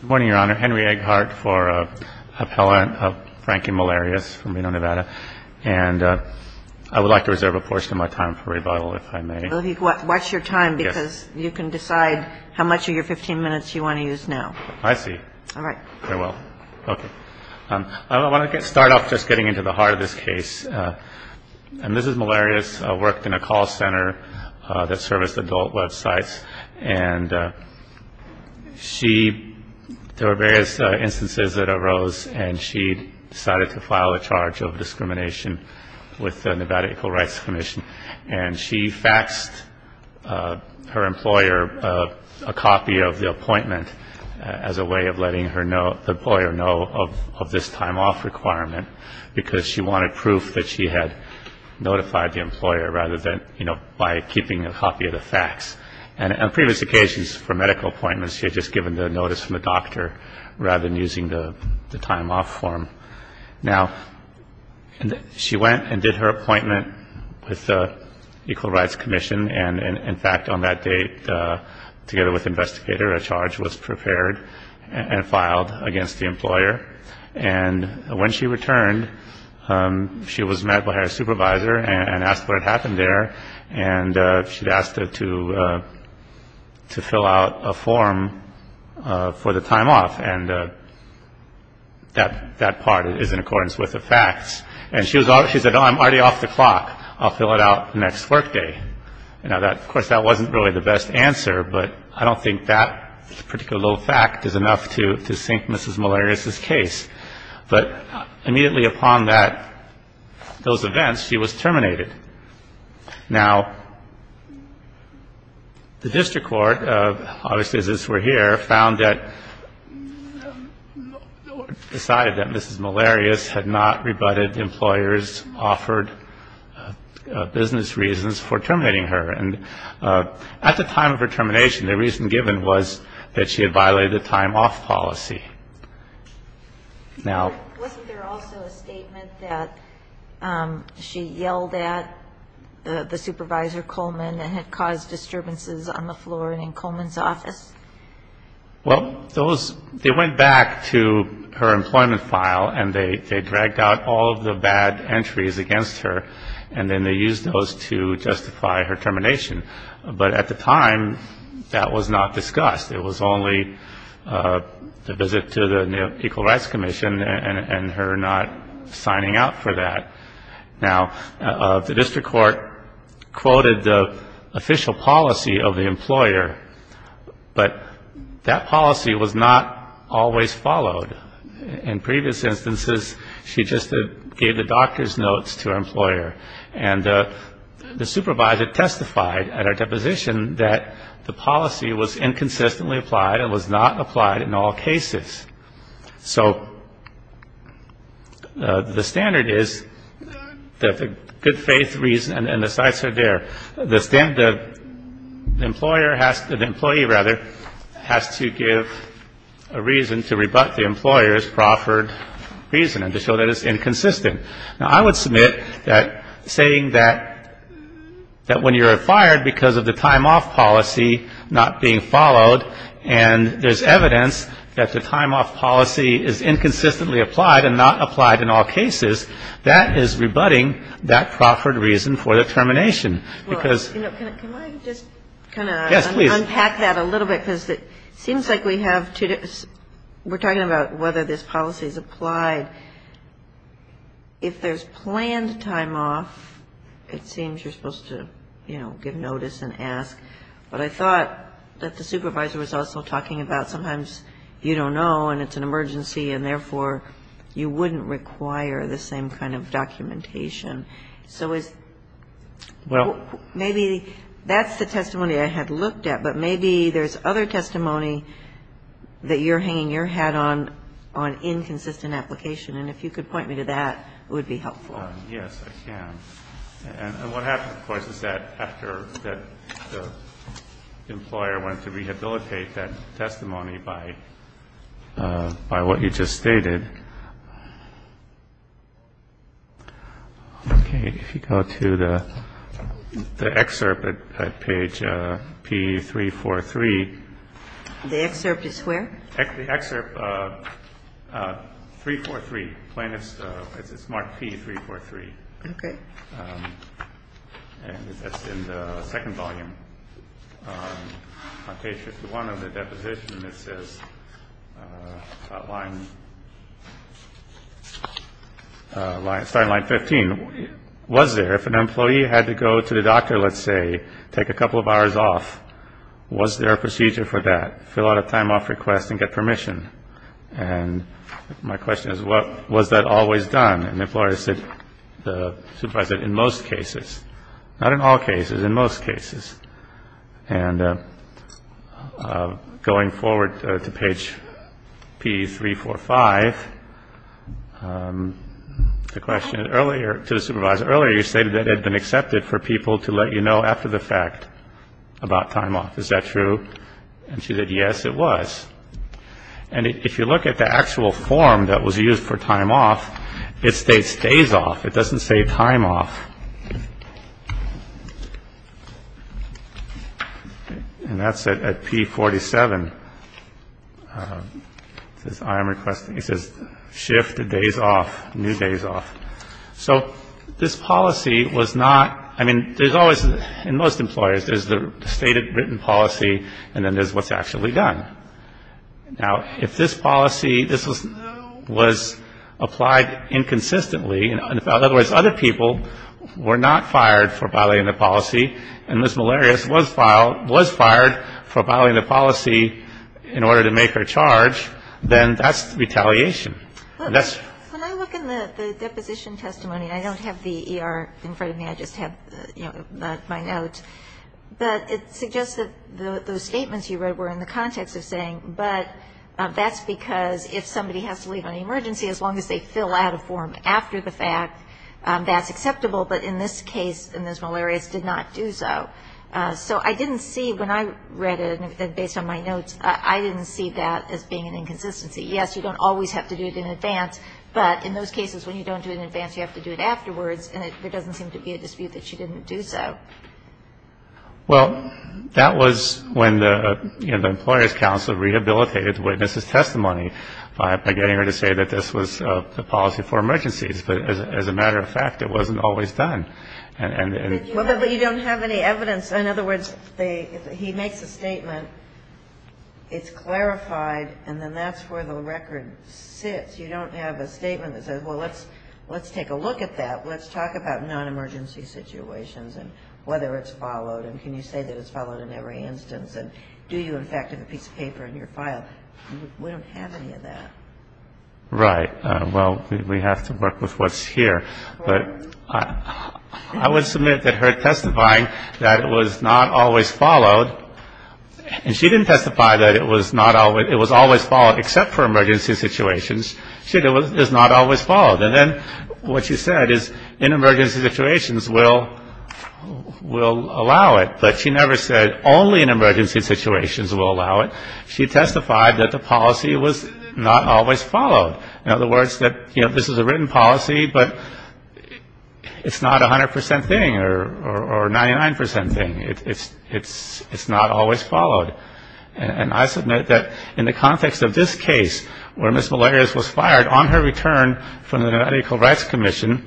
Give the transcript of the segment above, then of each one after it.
Good morning, Your Honor. Henry Egghart for appellant of Frankie Malarius from Reno, Nevada, and I would like to reserve a portion of my time for rebuttal, if I may. Watch your time, because you can decide how much of your 15 minutes you want to use now. I see. Very well. I want to start off just getting into the heart of this case. Mrs. Malarius worked in a call center that serviced adult websites. There were various instances that arose, and she decided to file a charge of discrimination with the Nevada Equal Rights Commission. She faxed her employer a copy of the appointment as a way of letting the employer know of this time off requirement, because she wanted proof that she had notified the employer, rather than by keeping a copy of the fax. On previous occasions for medical appointments, she had just given the notice from the doctor, rather than using the time off form. Now, she went and did her appointment with the Equal Rights Commission, and in fact, on that date, together with the investigator, a charge was prepared and filed against the employer. And when she returned, she was met by her supervisor and asked what had happened there, and she'd asked to fill out a form for the time off, and that part is in accordance with the fax. And she said, oh, I'm already off the clock. I'll fill it out next workday. Of course, that wasn't really the best answer, but I don't think that particular little fact is enough to sink Mrs. Malarius' case. But immediately upon that, those events, she was terminated. Now, the district court, obviously as we're here, found that, decided that Mrs. Malarius had not rebutted employers' offered business reasons for terminating her. And at the time of her termination, the reason given was that she had violated the time off policy. Now, Wasn't there also a statement that she yelled at the supervisor, Coleman, and had caused disturbances on the floor and in Coleman's office? Well, they went back to her employment file, and they dragged out all of the bad entries against her, and then they used those to justify her termination. But at the time, that was not discussed. It was only the visit to the Equal Rights Commission and her not signing up for that. Now, the district court quoted the official policy of the employer, but that policy was not always followed. In previous instances, she just gave the doctor's notes to her employer, and the supervisor testified at our deposition that the policy was inconsistently applied and was not applied in all cases. So the standard is that the good faith reason and the sites are there. The employer has to, the employee, rather, has to give a reason to rebut the employer's proffered reason and to show that it's inconsistent. Now, I would submit that saying that when you're fired because of the time off policy not being followed and there's evidence that the time off policy is inconsistently applied and not applied in all cases, that is rebutting that proffered reason for the termination. Because ‑‑ Well, you know, can I just kind of unpack that a little bit? Yes, please. Because it seems like we have two different ‑‑ we're talking about whether this policy is applied. If there's planned time off, it seems you're supposed to, you know, give notice and ask. But I thought that the supervisor was also talking about sometimes you don't know and it's an emergency and, therefore, you wouldn't require the same kind of documentation. So is ‑‑ Well ‑‑ Maybe that's the testimony I had looked at. But maybe there's other testimony that you're hanging your hat on on inconsistent application. And if you could point me to that, it would be helpful. Yes, I can. And what happens, of course, is that after the employer went to rehabilitate that testimony by what you just stated, okay, if you go to the excerpt at page P343. The excerpt is where? The excerpt, 343, plaintiff's ‑‑ it's marked P343. Okay. And that's in the second volume. On page 51 of the deposition, it says, starting line 15, was there, if an employee had to go to the doctor, let's say, take a couple of hours off, was there a procedure for that? Fill out a time off request and get permission. And my question is, was that always done? And the employer said, the supervisor said, in most cases. Not in all cases, in most cases. And going forward to page P345, the question earlier, to the supervisor, earlier you stated that it had been accepted for people to let you know after the fact about time off. Is that true? And she said, yes, it was. And if you look at the actual form that was used for time off, it states days off. It doesn't say time off. And that's at P47. It says shift days off, new days off. So this policy was not ‑‑ I mean, there's always, in most employers, there's the stated written policy and then there's what's actually done. Now, if this policy, this was applied inconsistently, in other words, other people were not fired for violating the policy, and Ms. Malarius was fired for violating the policy in order to make her charge, then that's retaliation. And that's ‑‑ When I look in the deposition testimony, I don't have the ER in front of me. I just have, you know, my note. But it suggests that those statements you read were in the context of saying, but that's because if somebody has to leave on an emergency, as long as they fill out a form after the fact, that's acceptable. But in this case, Ms. Malarius did not do so. So I didn't see, when I read it, based on my notes, I didn't see that as being an inconsistency. Yes, you don't always have to do it in advance, but in those cases when you don't do it in advance, you have to do it afterwards, and it doesn't seem to be a dispute that she didn't do so. Well, that was when the, you know, the Employer's Council rehabilitated the witness's testimony by getting her to say that this was a policy for emergencies. But as a matter of fact, it wasn't always done. But you don't have any evidence. In other words, he makes a statement, it's clarified, and then that's where the record sits. You don't have a statement that says, well, let's take a look at that. Let's talk about non-emergency situations and whether it's followed, and can you say that it's followed in every instance, and do you, in fact, have a piece of paper in your file? We don't have any of that. Right. Well, we have to work with what's here. But I would submit that her testifying that it was not always followed, and she didn't testify that it was always followed except for emergency situations. She said it was not always followed. And then what she said is, in emergency situations, we'll allow it. But she never said only in emergency situations we'll allow it. She testified that the policy was not always followed. In other words, that, you know, this is a written policy, but it's not a 100% thing or 99% thing. It's not always followed. And I submit that in the context of this case where Ms. Molares was fired on her return from the Medical Rights Commission,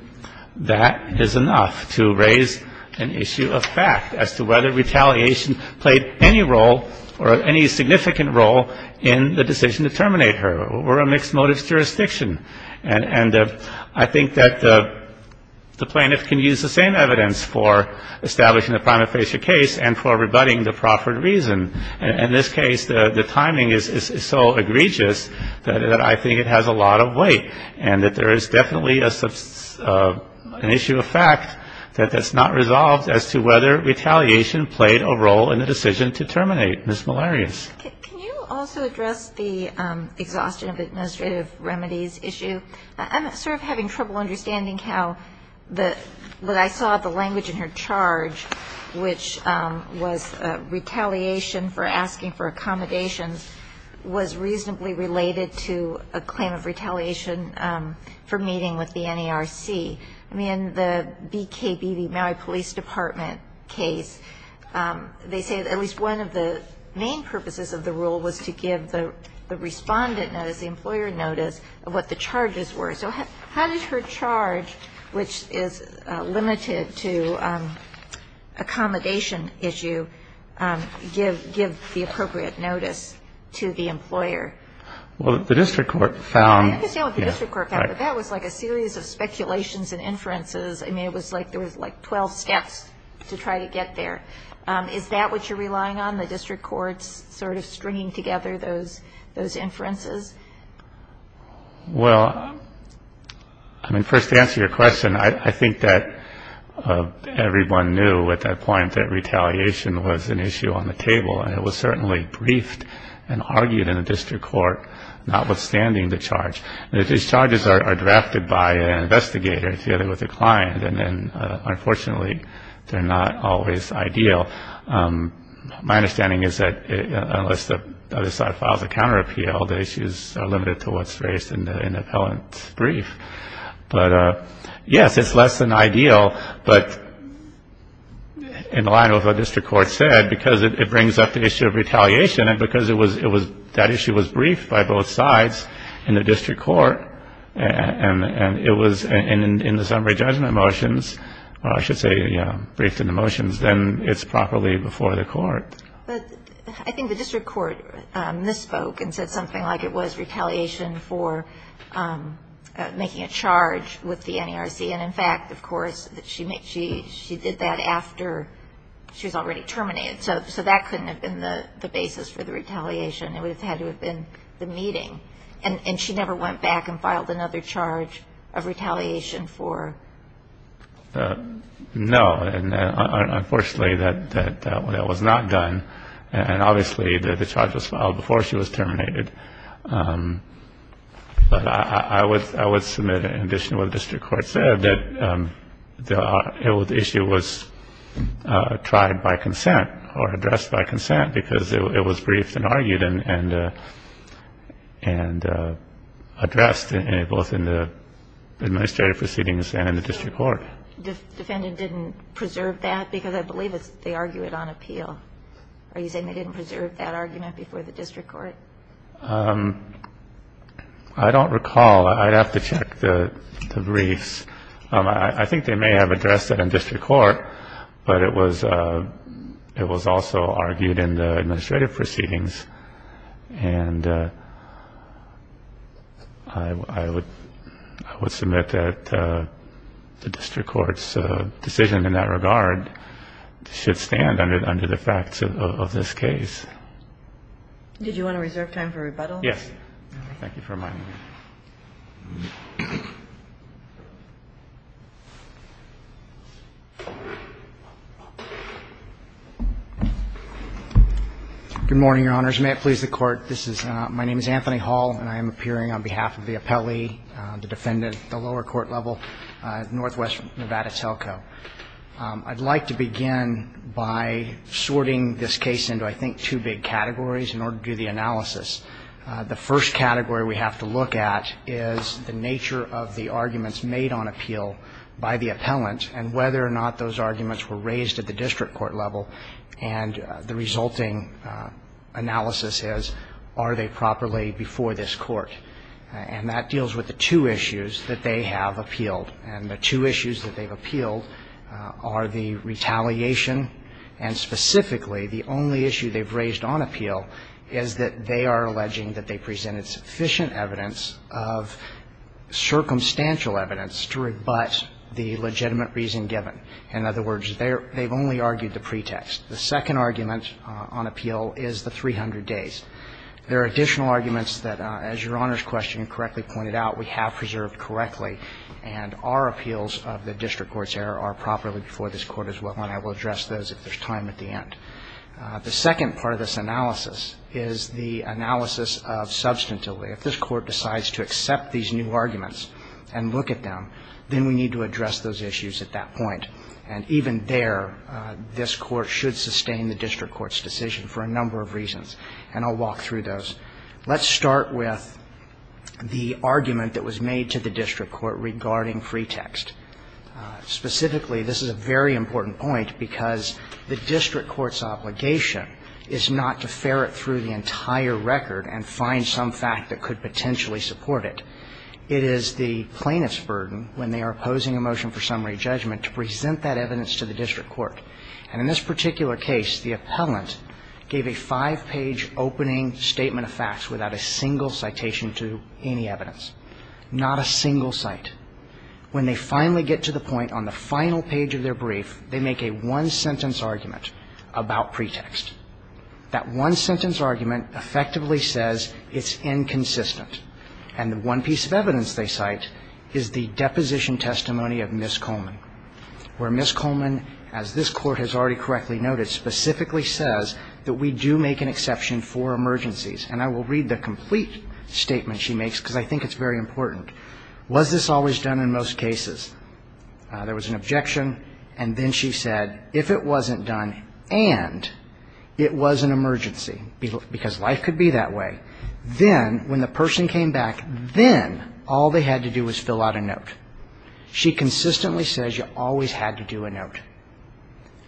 that is enough to raise an issue of fact as to whether retaliation played any role or any significant role in the decision to terminate her or a mixed motives jurisdiction. And I think that the plaintiff can use the same evidence for establishing a prima facie case and for rebutting the proffered reason. In this case, the timing is so egregious that I think it has a lot of weight and that there is definitely an issue of fact that's not resolved as to whether retaliation played a role in the decision to terminate Ms. Molares. MS. MOLARES. Can you also address the exhaustion of administrative remedies issue? I'm sort of having trouble understanding how the ‑‑ what I saw the language in her charge, which was retaliation for asking for accommodations, was reasonably related to a claim of retaliation for meeting with the NERC. I mean, the BKB, the Maui Police Department case, they say at least one of the main purposes of the rule was to give the respondent notice, the employer notice, of what the charges were. So how did her charge, which is limited to accommodation issue, give the appropriate notice to the employer? MR. WELLS. Well, the district court found ‑‑ MS. MOLARES. I understand what the district court found, but that was like a series of speculations and inferences. I mean, it was like there was like 12 steps to try to get there. Is that what you're relying on, the district court's sort of stringing together those inferences? MR. WELLS. Well, I mean, first to answer your question, I think that everyone knew at that point that retaliation was an issue on the table, and it was certainly briefed and argued in the district court, notwithstanding the charge. These charges are drafted by an investigator together with a client, and then unfortunately they're not always ideal. My understanding is that unless the other side files a counterappeal, the issues are limited to what's raised in the appellant brief. But, yes, it's less than ideal, but in line with what the district court said, because it brings up the issue of retaliation, and because that issue was briefed by both sides in the district court, and it was in the summary judgment motions, or I should say briefed in the motions, then it's properly before the court. MS. HEUMANN. But I think the district court misspoke and said something like it was retaliation for making a charge with the NARC. And, in fact, of course, she did that after she was already terminated. So that couldn't have been the basis for the retaliation. It would have had to have been the meeting. And she never went back and filed another charge of retaliation for the NARC. MR. WELLS. No. Unfortunately, that was not done. And, obviously, the charge was filed before she was terminated. But I would submit, in addition to what the district court said, that the issue was tried by consent or addressed by consent, because it was briefed and argued and addressed both in the administrative proceedings and in the district court. MS. HEUMANN. The defendant didn't preserve that? Because I believe they argue it on appeal. Are you saying they didn't preserve that argument before the district court? MR. WELLS. I don't recall. I'd have to check the briefs. I think they may have addressed it in district court, but it was also argued in the administrative proceedings. And I would submit that the district court's decision in that regard should stand under the facts of this case. MS. HEUMANN. Did you want to reserve time for rebuttal? MR. WELLS. Yes. Thank you for reminding me. MR. HALL. Good morning, Your Honors. May it please the Court. My name is Anthony Hall, and I am appearing on behalf of the appellee, the defendant at the lower court level at Northwest Nevada Telco. I'd like to begin by sorting this case into, I think, two big categories in order to do the analysis. The first category we have to look at is the nature of the arguments made on appeal by the appellant and whether or not those arguments were raised at the district court level. And the resulting analysis is, are they properly before this court? And that deals with the two issues that they have appealed. And the two issues that they've appealed are the retaliation and, specifically, the only issue they've raised on appeal is that they are alleging that they presented sufficient evidence of circumstantial evidence to rebut the legitimate reason given. In other words, they've only argued the pretext. The second argument on appeal is the 300 days. There are additional arguments that, as Your Honor's question correctly pointed out, we have preserved correctly, and our appeals of the district court's error are properly before this court as well, and I will address those if there's time at the end. The second part of this analysis is the analysis of substantively. If this Court decides to accept these new arguments and look at them, then we need to address those issues at that point. And even there, this Court should sustain the district court's decision for a number of reasons, and I'll walk through those. Let's start with the argument that was made to the district court regarding pretext. Specifically, this is a very important point because the district court's obligation is not to ferret through the entire record and find some fact that could potentially support it. It is the plaintiff's burden, when they are opposing a motion for summary judgment, to present that evidence to the district court. And in this particular case, the appellant gave a five-page opening statement of facts without a single citation to any evidence. Not a single cite. When they finally get to the point on the final page of their brief, they make a one-sentence argument about pretext. That one-sentence argument effectively says it's inconsistent. And the one piece of evidence they cite is the deposition testimony of Ms. Coleman, where Ms. Coleman, as this Court has already correctly noted, specifically says that we do make an exception for emergencies. And I will read the complete statement she makes because I think it's very important. Was this always done in most cases? There was an objection. And then she said if it wasn't done and it was an emergency, because life could be that way, then when the person came back, then all they had to do was fill out a note. She consistently says you always had to do a note.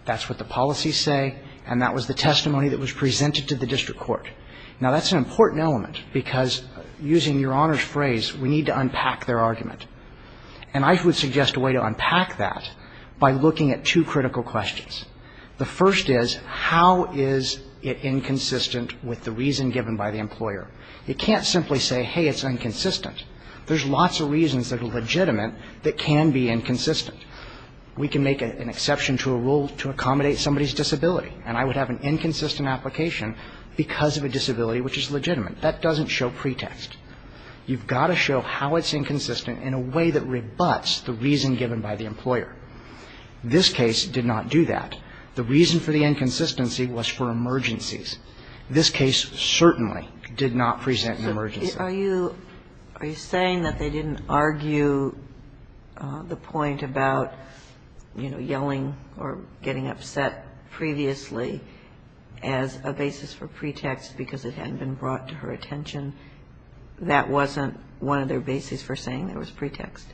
That's what the policies say. And that was the testimony that was presented to the district court. Now, that's an important element because using Your Honor's phrase, we need to unpack their argument. And I would suggest a way to unpack that by looking at two critical questions. The first is how is it inconsistent with the reason given by the employer? You can't simply say, hey, it's inconsistent. There's lots of reasons that are legitimate that can be inconsistent. We can make an exception to a rule to accommodate somebody's disability, and I would have an inconsistent application because of a disability which is legitimate. That doesn't show pretext. You've got to show how it's inconsistent in a way that rebuts the reason given by the employer. This case did not do that. The reason for the inconsistency was for emergencies. This case certainly did not present an emergency. Kagan. Are you saying that they didn't argue the point about, you know, yelling or getting upset previously as a basis for pretext because it hadn't been brought to her attention? That wasn't one of their bases for saying there was pretext?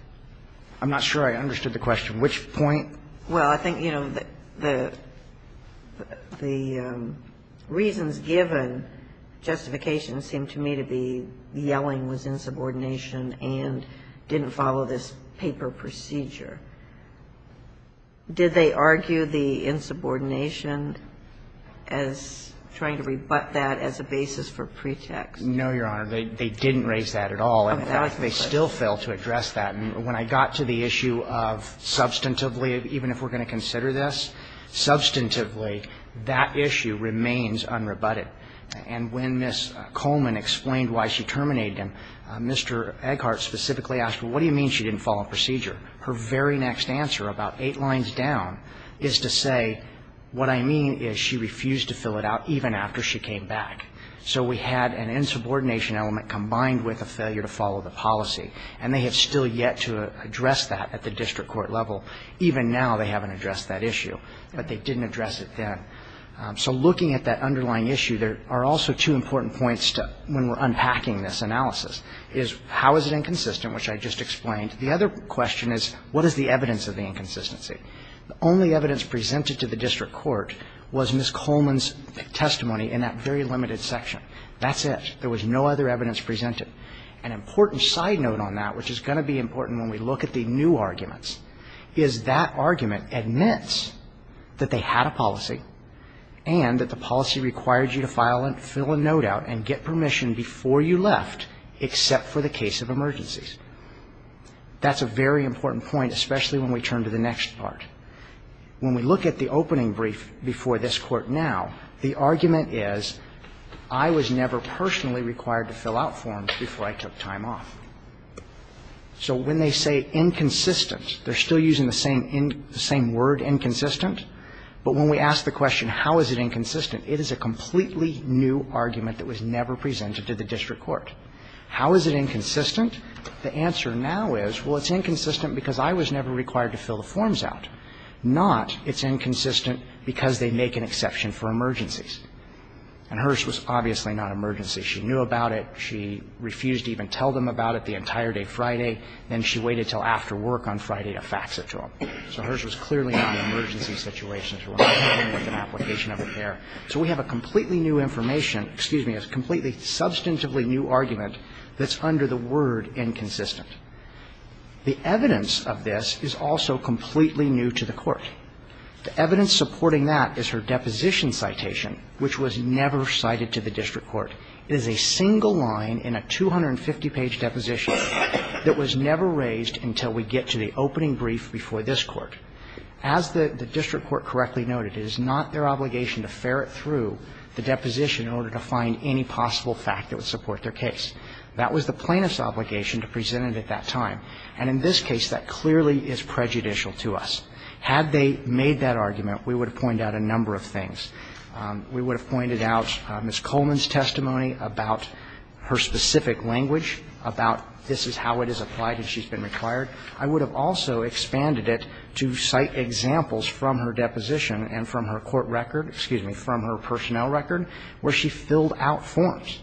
I'm not sure I understood the question. Which point? Well, I think, you know, the reasons given, justification seemed to me to be yelling was insubordination and didn't follow this paper procedure. Did they argue the insubordination as trying to rebut that as a basis for pretext? No, Your Honor. They didn't raise that at all. In fact, they still failed to address that. When I got to the issue of substantively, even if we're going to consider this, substantively, that issue remains unrebutted. And when Ms. Coleman explained why she terminated him, Mr. Egghart specifically asked, well, what do you mean she didn't follow procedure? Her very next answer, about eight lines down, is to say, what I mean is she refused to fill it out even after she came back. So we had an insubordination element combined with a failure to follow the policy. And they have still yet to address that at the district court level. Even now, they haven't addressed that issue. But they didn't address it then. So looking at that underlying issue, there are also two important points when we're unpacking this analysis, is how is it inconsistent, which I just explained. The other question is what is the evidence of the inconsistency? The only evidence presented to the district court was Ms. Coleman's testimony in that very limited section. That's it. There was no other evidence presented. An important side note on that, which is going to be important when we look at the new arguments, is that argument admits that they had a policy and that the policy required you to file and fill a note out and get permission before you left, except for the case of emergencies. That's a very important point, especially when we turn to the next part. When we look at the opening brief before this Court now, the argument is, I was never personally required to fill out forms before I took time off. So when they say inconsistent, they're still using the same word, inconsistent. But when we ask the question, how is it inconsistent, it is a completely new argument that was never presented to the district court. How is it inconsistent? The answer now is, well, it's inconsistent because I was never required to fill the forms out, not it's inconsistent because they make an exception for emergencies. And hers was obviously not emergency. She knew about it. She refused to even tell them about it the entire day Friday. Then she waited until after work on Friday to fax it to them. So hers was clearly not an emergency situation. It was an application of a pair. So we have a completely new information, excuse me, a completely substantively new argument that's under the word inconsistent. The evidence of this is also completely new to the Court. The evidence supporting that is her deposition citation, which was never cited to the district court. It is a single line in a 250-page deposition that was never raised until we get to the opening brief before this Court. As the district court correctly noted, it is not their obligation to ferret through the deposition in order to find any possible fact that would support their case. That was the plaintiff's obligation to present it at that time. And in this case, that clearly is prejudicial to us. Had they made that argument, we would have pointed out a number of things. We would have pointed out Ms. Coleman's testimony about her specific language, about this is how it is applied and she's been required. I would have also expanded it to cite examples from her deposition and from her court record, excuse me, from her personnel record, where she filled out forms.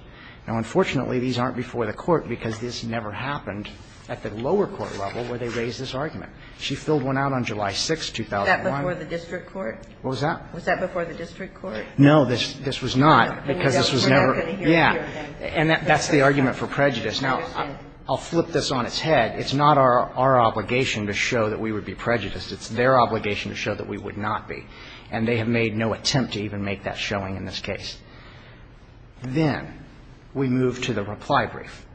Now, unfortunately, these aren't before the Court because this never happened at the lower court level where they raised this argument. She filled one out on July 6th, 2001. Was that before the district court? What was that? Was that before the district court? No. This was not because this was never. Yeah. And that's the argument for prejudice. Now, I'll flip this on its head. It's not our obligation to show that we would be prejudiced. It's their obligation to show that we would not be. And they have made no attempt to even make that showing in this case. Then we move to the reply brief.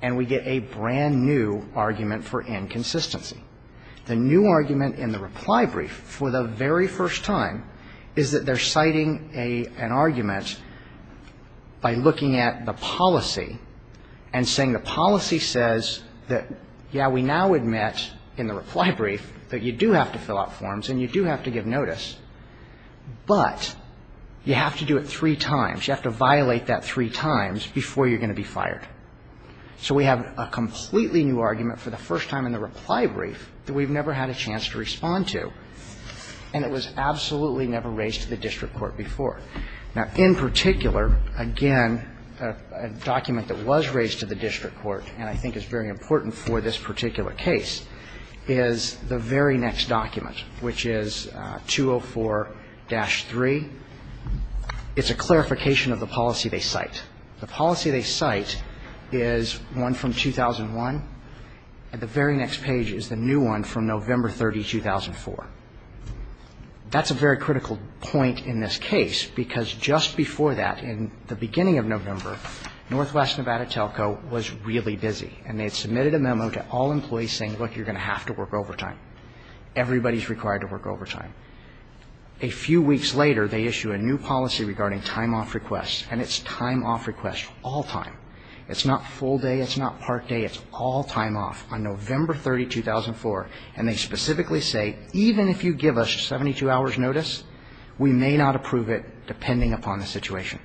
And we get a brand-new argument for inconsistency. The new argument in the reply brief for the very first time is that they're citing an argument by looking at the policy and saying the policy says that, yeah, we now admit in the reply brief that you do have to fill out forms and you do have to give notice, but you have to do it three times. You have to violate that three times before you're going to be fired. So we have a completely new argument for the first time in the reply brief that we've never had a chance to respond to. And it was absolutely never raised to the district court before. Now, in particular, again, a document that was raised to the district court and I think is very important for this particular case is the very next document, which is 204-3. It's a clarification of the policy they cite. The policy they cite is one from 2001, and the very next page is the new one from November 30, 2004. That's a very critical point in this case because just before that, in the beginning of November, Northwest Nevada Telco was really busy and they had submitted a memo to all employees saying, look, you're going to have to work overtime. Everybody's required to work overtime. A few weeks later, they issue a new policy regarding time off requests, and it's time off requests all time. It's not full day. It's not part day. It's all time off on November 30, 2004, and they specifically say, even if you give us 72 hours' notice, we may not approve it depending upon the situation,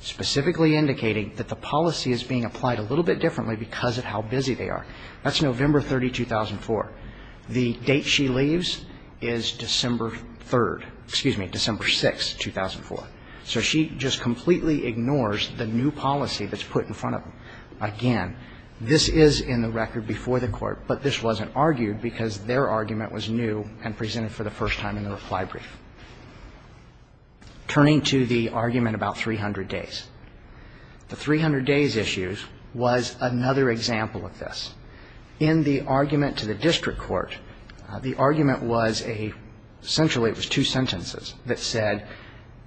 specifically indicating that the policy is being applied a little bit differently because of how busy they are. That's November 30, 2004. The date she leaves is December 3rd, excuse me, December 6, 2004. So she just completely ignores the new policy that's put in front of them. Again, this is in the record before the Court, but this wasn't argued because their argument was new and presented for the first time in the reply brief. Turning to the argument about 300 days. The 300 days issue was another example of this. In the argument to the district court, the argument was a, essentially it was two sentences that said,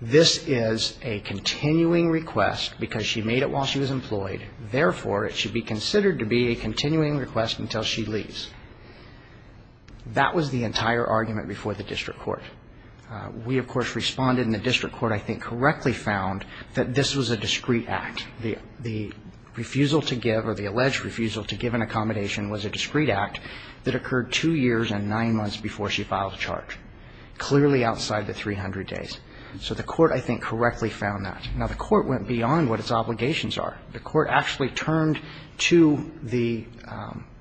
this is a continuing request because she made it while she was employed. Therefore, it should be considered to be a continuing request until she leaves. That was the entire argument before the district court. We, of course, responded, and the district court, I think, correctly found that this was a discreet act. The refusal to give, or the alleged refusal to give an accommodation was a discreet act that occurred two years and nine months before she filed a charge, clearly outside the 300 days. So the Court, I think, correctly found that. Now, the Court went beyond what its obligations are. The Court actually turned to the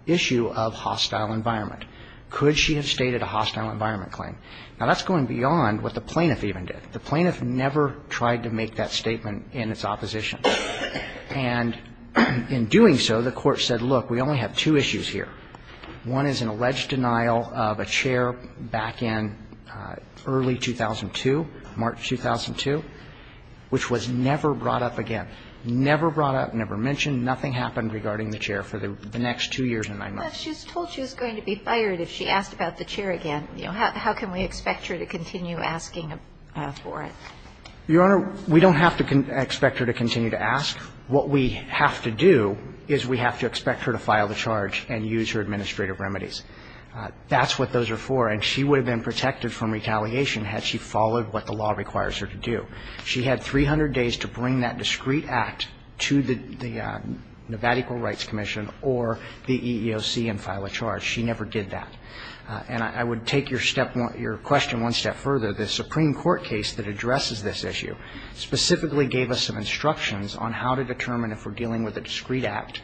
issue of hostile environment. Could she have stated a hostile environment claim? Now, that's going beyond what the plaintiff even did. The plaintiff never tried to make that statement in its opposition. And in doing so, the Court said, look, we only have two issues here. One is an alleged denial of a chair back in early 2002, March 2002, which was never brought up again. Never brought up, never mentioned. Nothing happened regarding the chair for the next two years and nine months. But she was told she was going to be fired if she asked about the chair again. And, you know, how can we expect her to continue asking for it? Your Honor, we don't have to expect her to continue to ask. What we have to do is we have to expect her to file the charge and use her administrative remedies. That's what those are for. And she would have been protected from retaliation had she followed what the law requires her to do. She had 300 days to bring that discreet act to the Nevada Equal Rights Commission or the EEOC and file a charge. She never did that. And I would take your question one step further. The Supreme Court case that addresses this issue specifically gave us some instructions on how to determine if we're dealing with a discreet act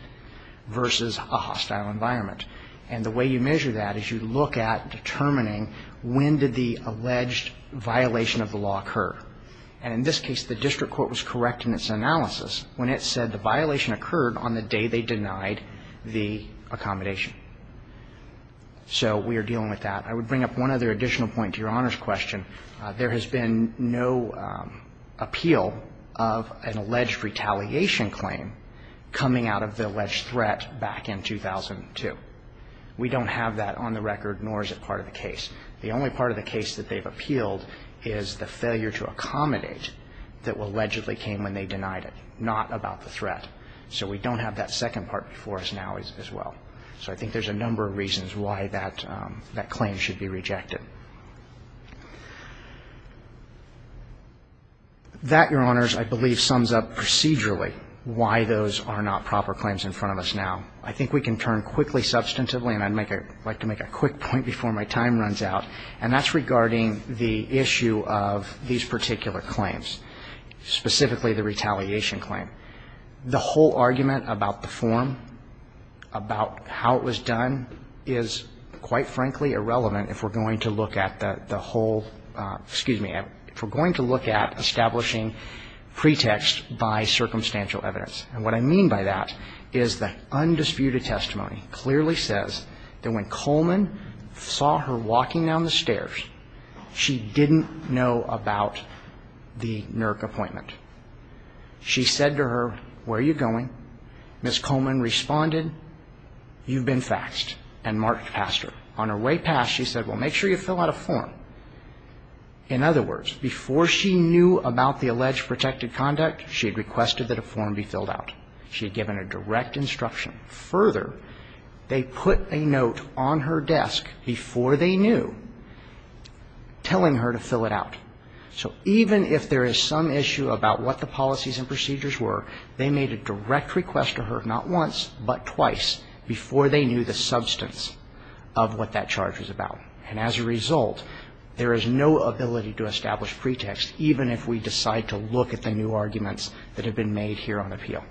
versus a hostile environment. And the way you measure that is you look at determining when did the alleged violation of the law occur. And in this case, the district court was correct in its analysis when it said the violation occurred on the day they denied the accommodation. So we are dealing with that. I would bring up one other additional point to Your Honor's question. There has been no appeal of an alleged retaliation claim coming out of the alleged threat back in 2002. We don't have that on the record, nor is it part of the case. The only part of the case that they've appealed is the failure to accommodate that allegedly came when they denied it, not about the threat. So we don't have that second part before us now as well. So I think there's a number of reasons why that claim should be rejected. That, Your Honors, I believe sums up procedurally why those are not proper claims in front of us now. I think we can turn quickly, substantively, and I'd like to make a quick point before my time runs out, and that's regarding the issue of these particular claims, specifically the retaliation claim. The whole argument about the form, about how it was done, is, quite frankly, irrelevant if we're going to look at the whole, excuse me, if we're going to look at establishing pretext by circumstantial evidence. And what I mean by that is the undisputed testimony clearly says that when Coleman saw her walking down the stairs, she didn't know about the NERC appointment. She said to her, where are you going? Ms. Coleman responded, you've been faxed, and marked past her. On her way past, she said, well, make sure you fill out a form. In other words, before she knew about the alleged protected conduct, she had requested that a form be filled out. She had given a direct instruction. Further, they put a note on her desk before they knew telling her to fill it out. So even if there is some issue about what the policies and procedures were, they made a direct request to her, not once, but twice, before they knew the substance of what that charge was about. And as a result, there is no ability to establish pretext, even if we decide to look at the new arguments that have been made here on appeal.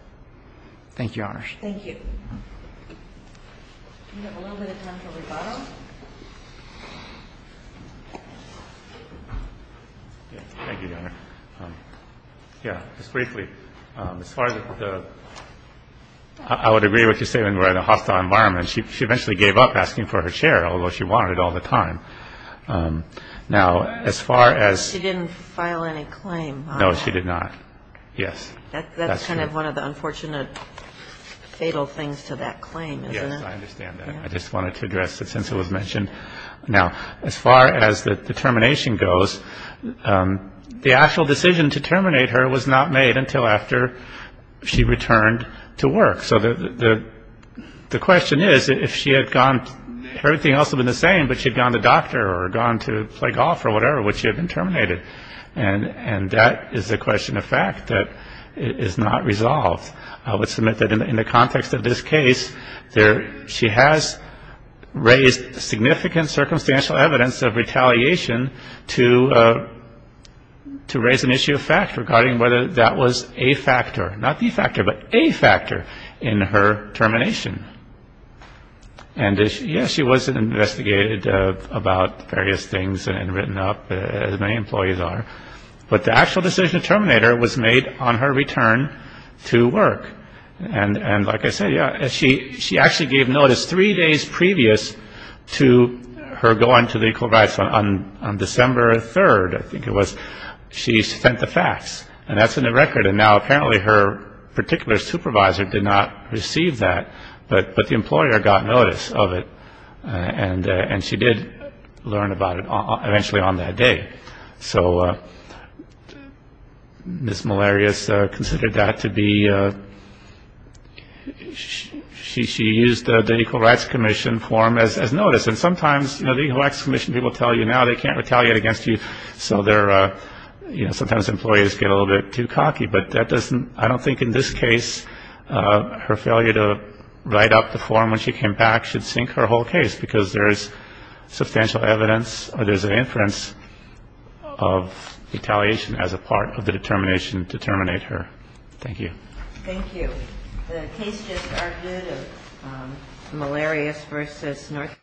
Thank you, Your Honors. Thank you. Do we have a little bit of time for rebuttal? Thank you, Your Honor. Yeah, just briefly. As far as the ‑‑ I would agree with your statement about a hostile environment. She eventually gave up asking for her chair, although she wanted it all the time. Now, as far as ‑‑ She didn't file any claim on that. No, she did not. Yes. That's kind of one of the unfortunate fatal things to that claim, isn't it? Yes, I understand that. I just wanted to address it since it was mentioned. Now, as far as the termination goes, the actual decision to terminate her was not made until after she returned to work. So the question is, if she had gone ‑‑ everything else would have been the same, but she had gone to the doctor or gone to play golf or whatever, would she have been terminated? And that is a question of fact that is not resolved. I would submit that in the context of this case, she has raised significant circumstantial evidence of retaliation to raise an issue of fact regarding whether that was a factor. Not the factor, but a factor in her termination. And yes, she was investigated about various things and written up, as many employees are. But the actual decision to terminate her was made on her return to work. And like I said, she actually gave notice three days previous to her going to the Equal Rights Fund. On December 3rd, I think it was, she sent the facts. And that's in the record. And now apparently her particular supervisor did not receive that. But the employer got notice of it. And she did learn about it eventually on that day. So Ms. Malarius considered that to be ‑‑ she used the Equal Rights Commission form as notice. And sometimes the Equal Rights Commission people tell you now they can't retaliate against you, so sometimes employees get a little bit too cocky. But that doesn't ‑‑ I don't think in this case her failure to write up the form when she came back should sink her whole case because there is substantial evidence, or there's an inference of retaliation as a part of the determination to terminate her. Thank you. Thank you. The case just started of Malarius v. Northrop.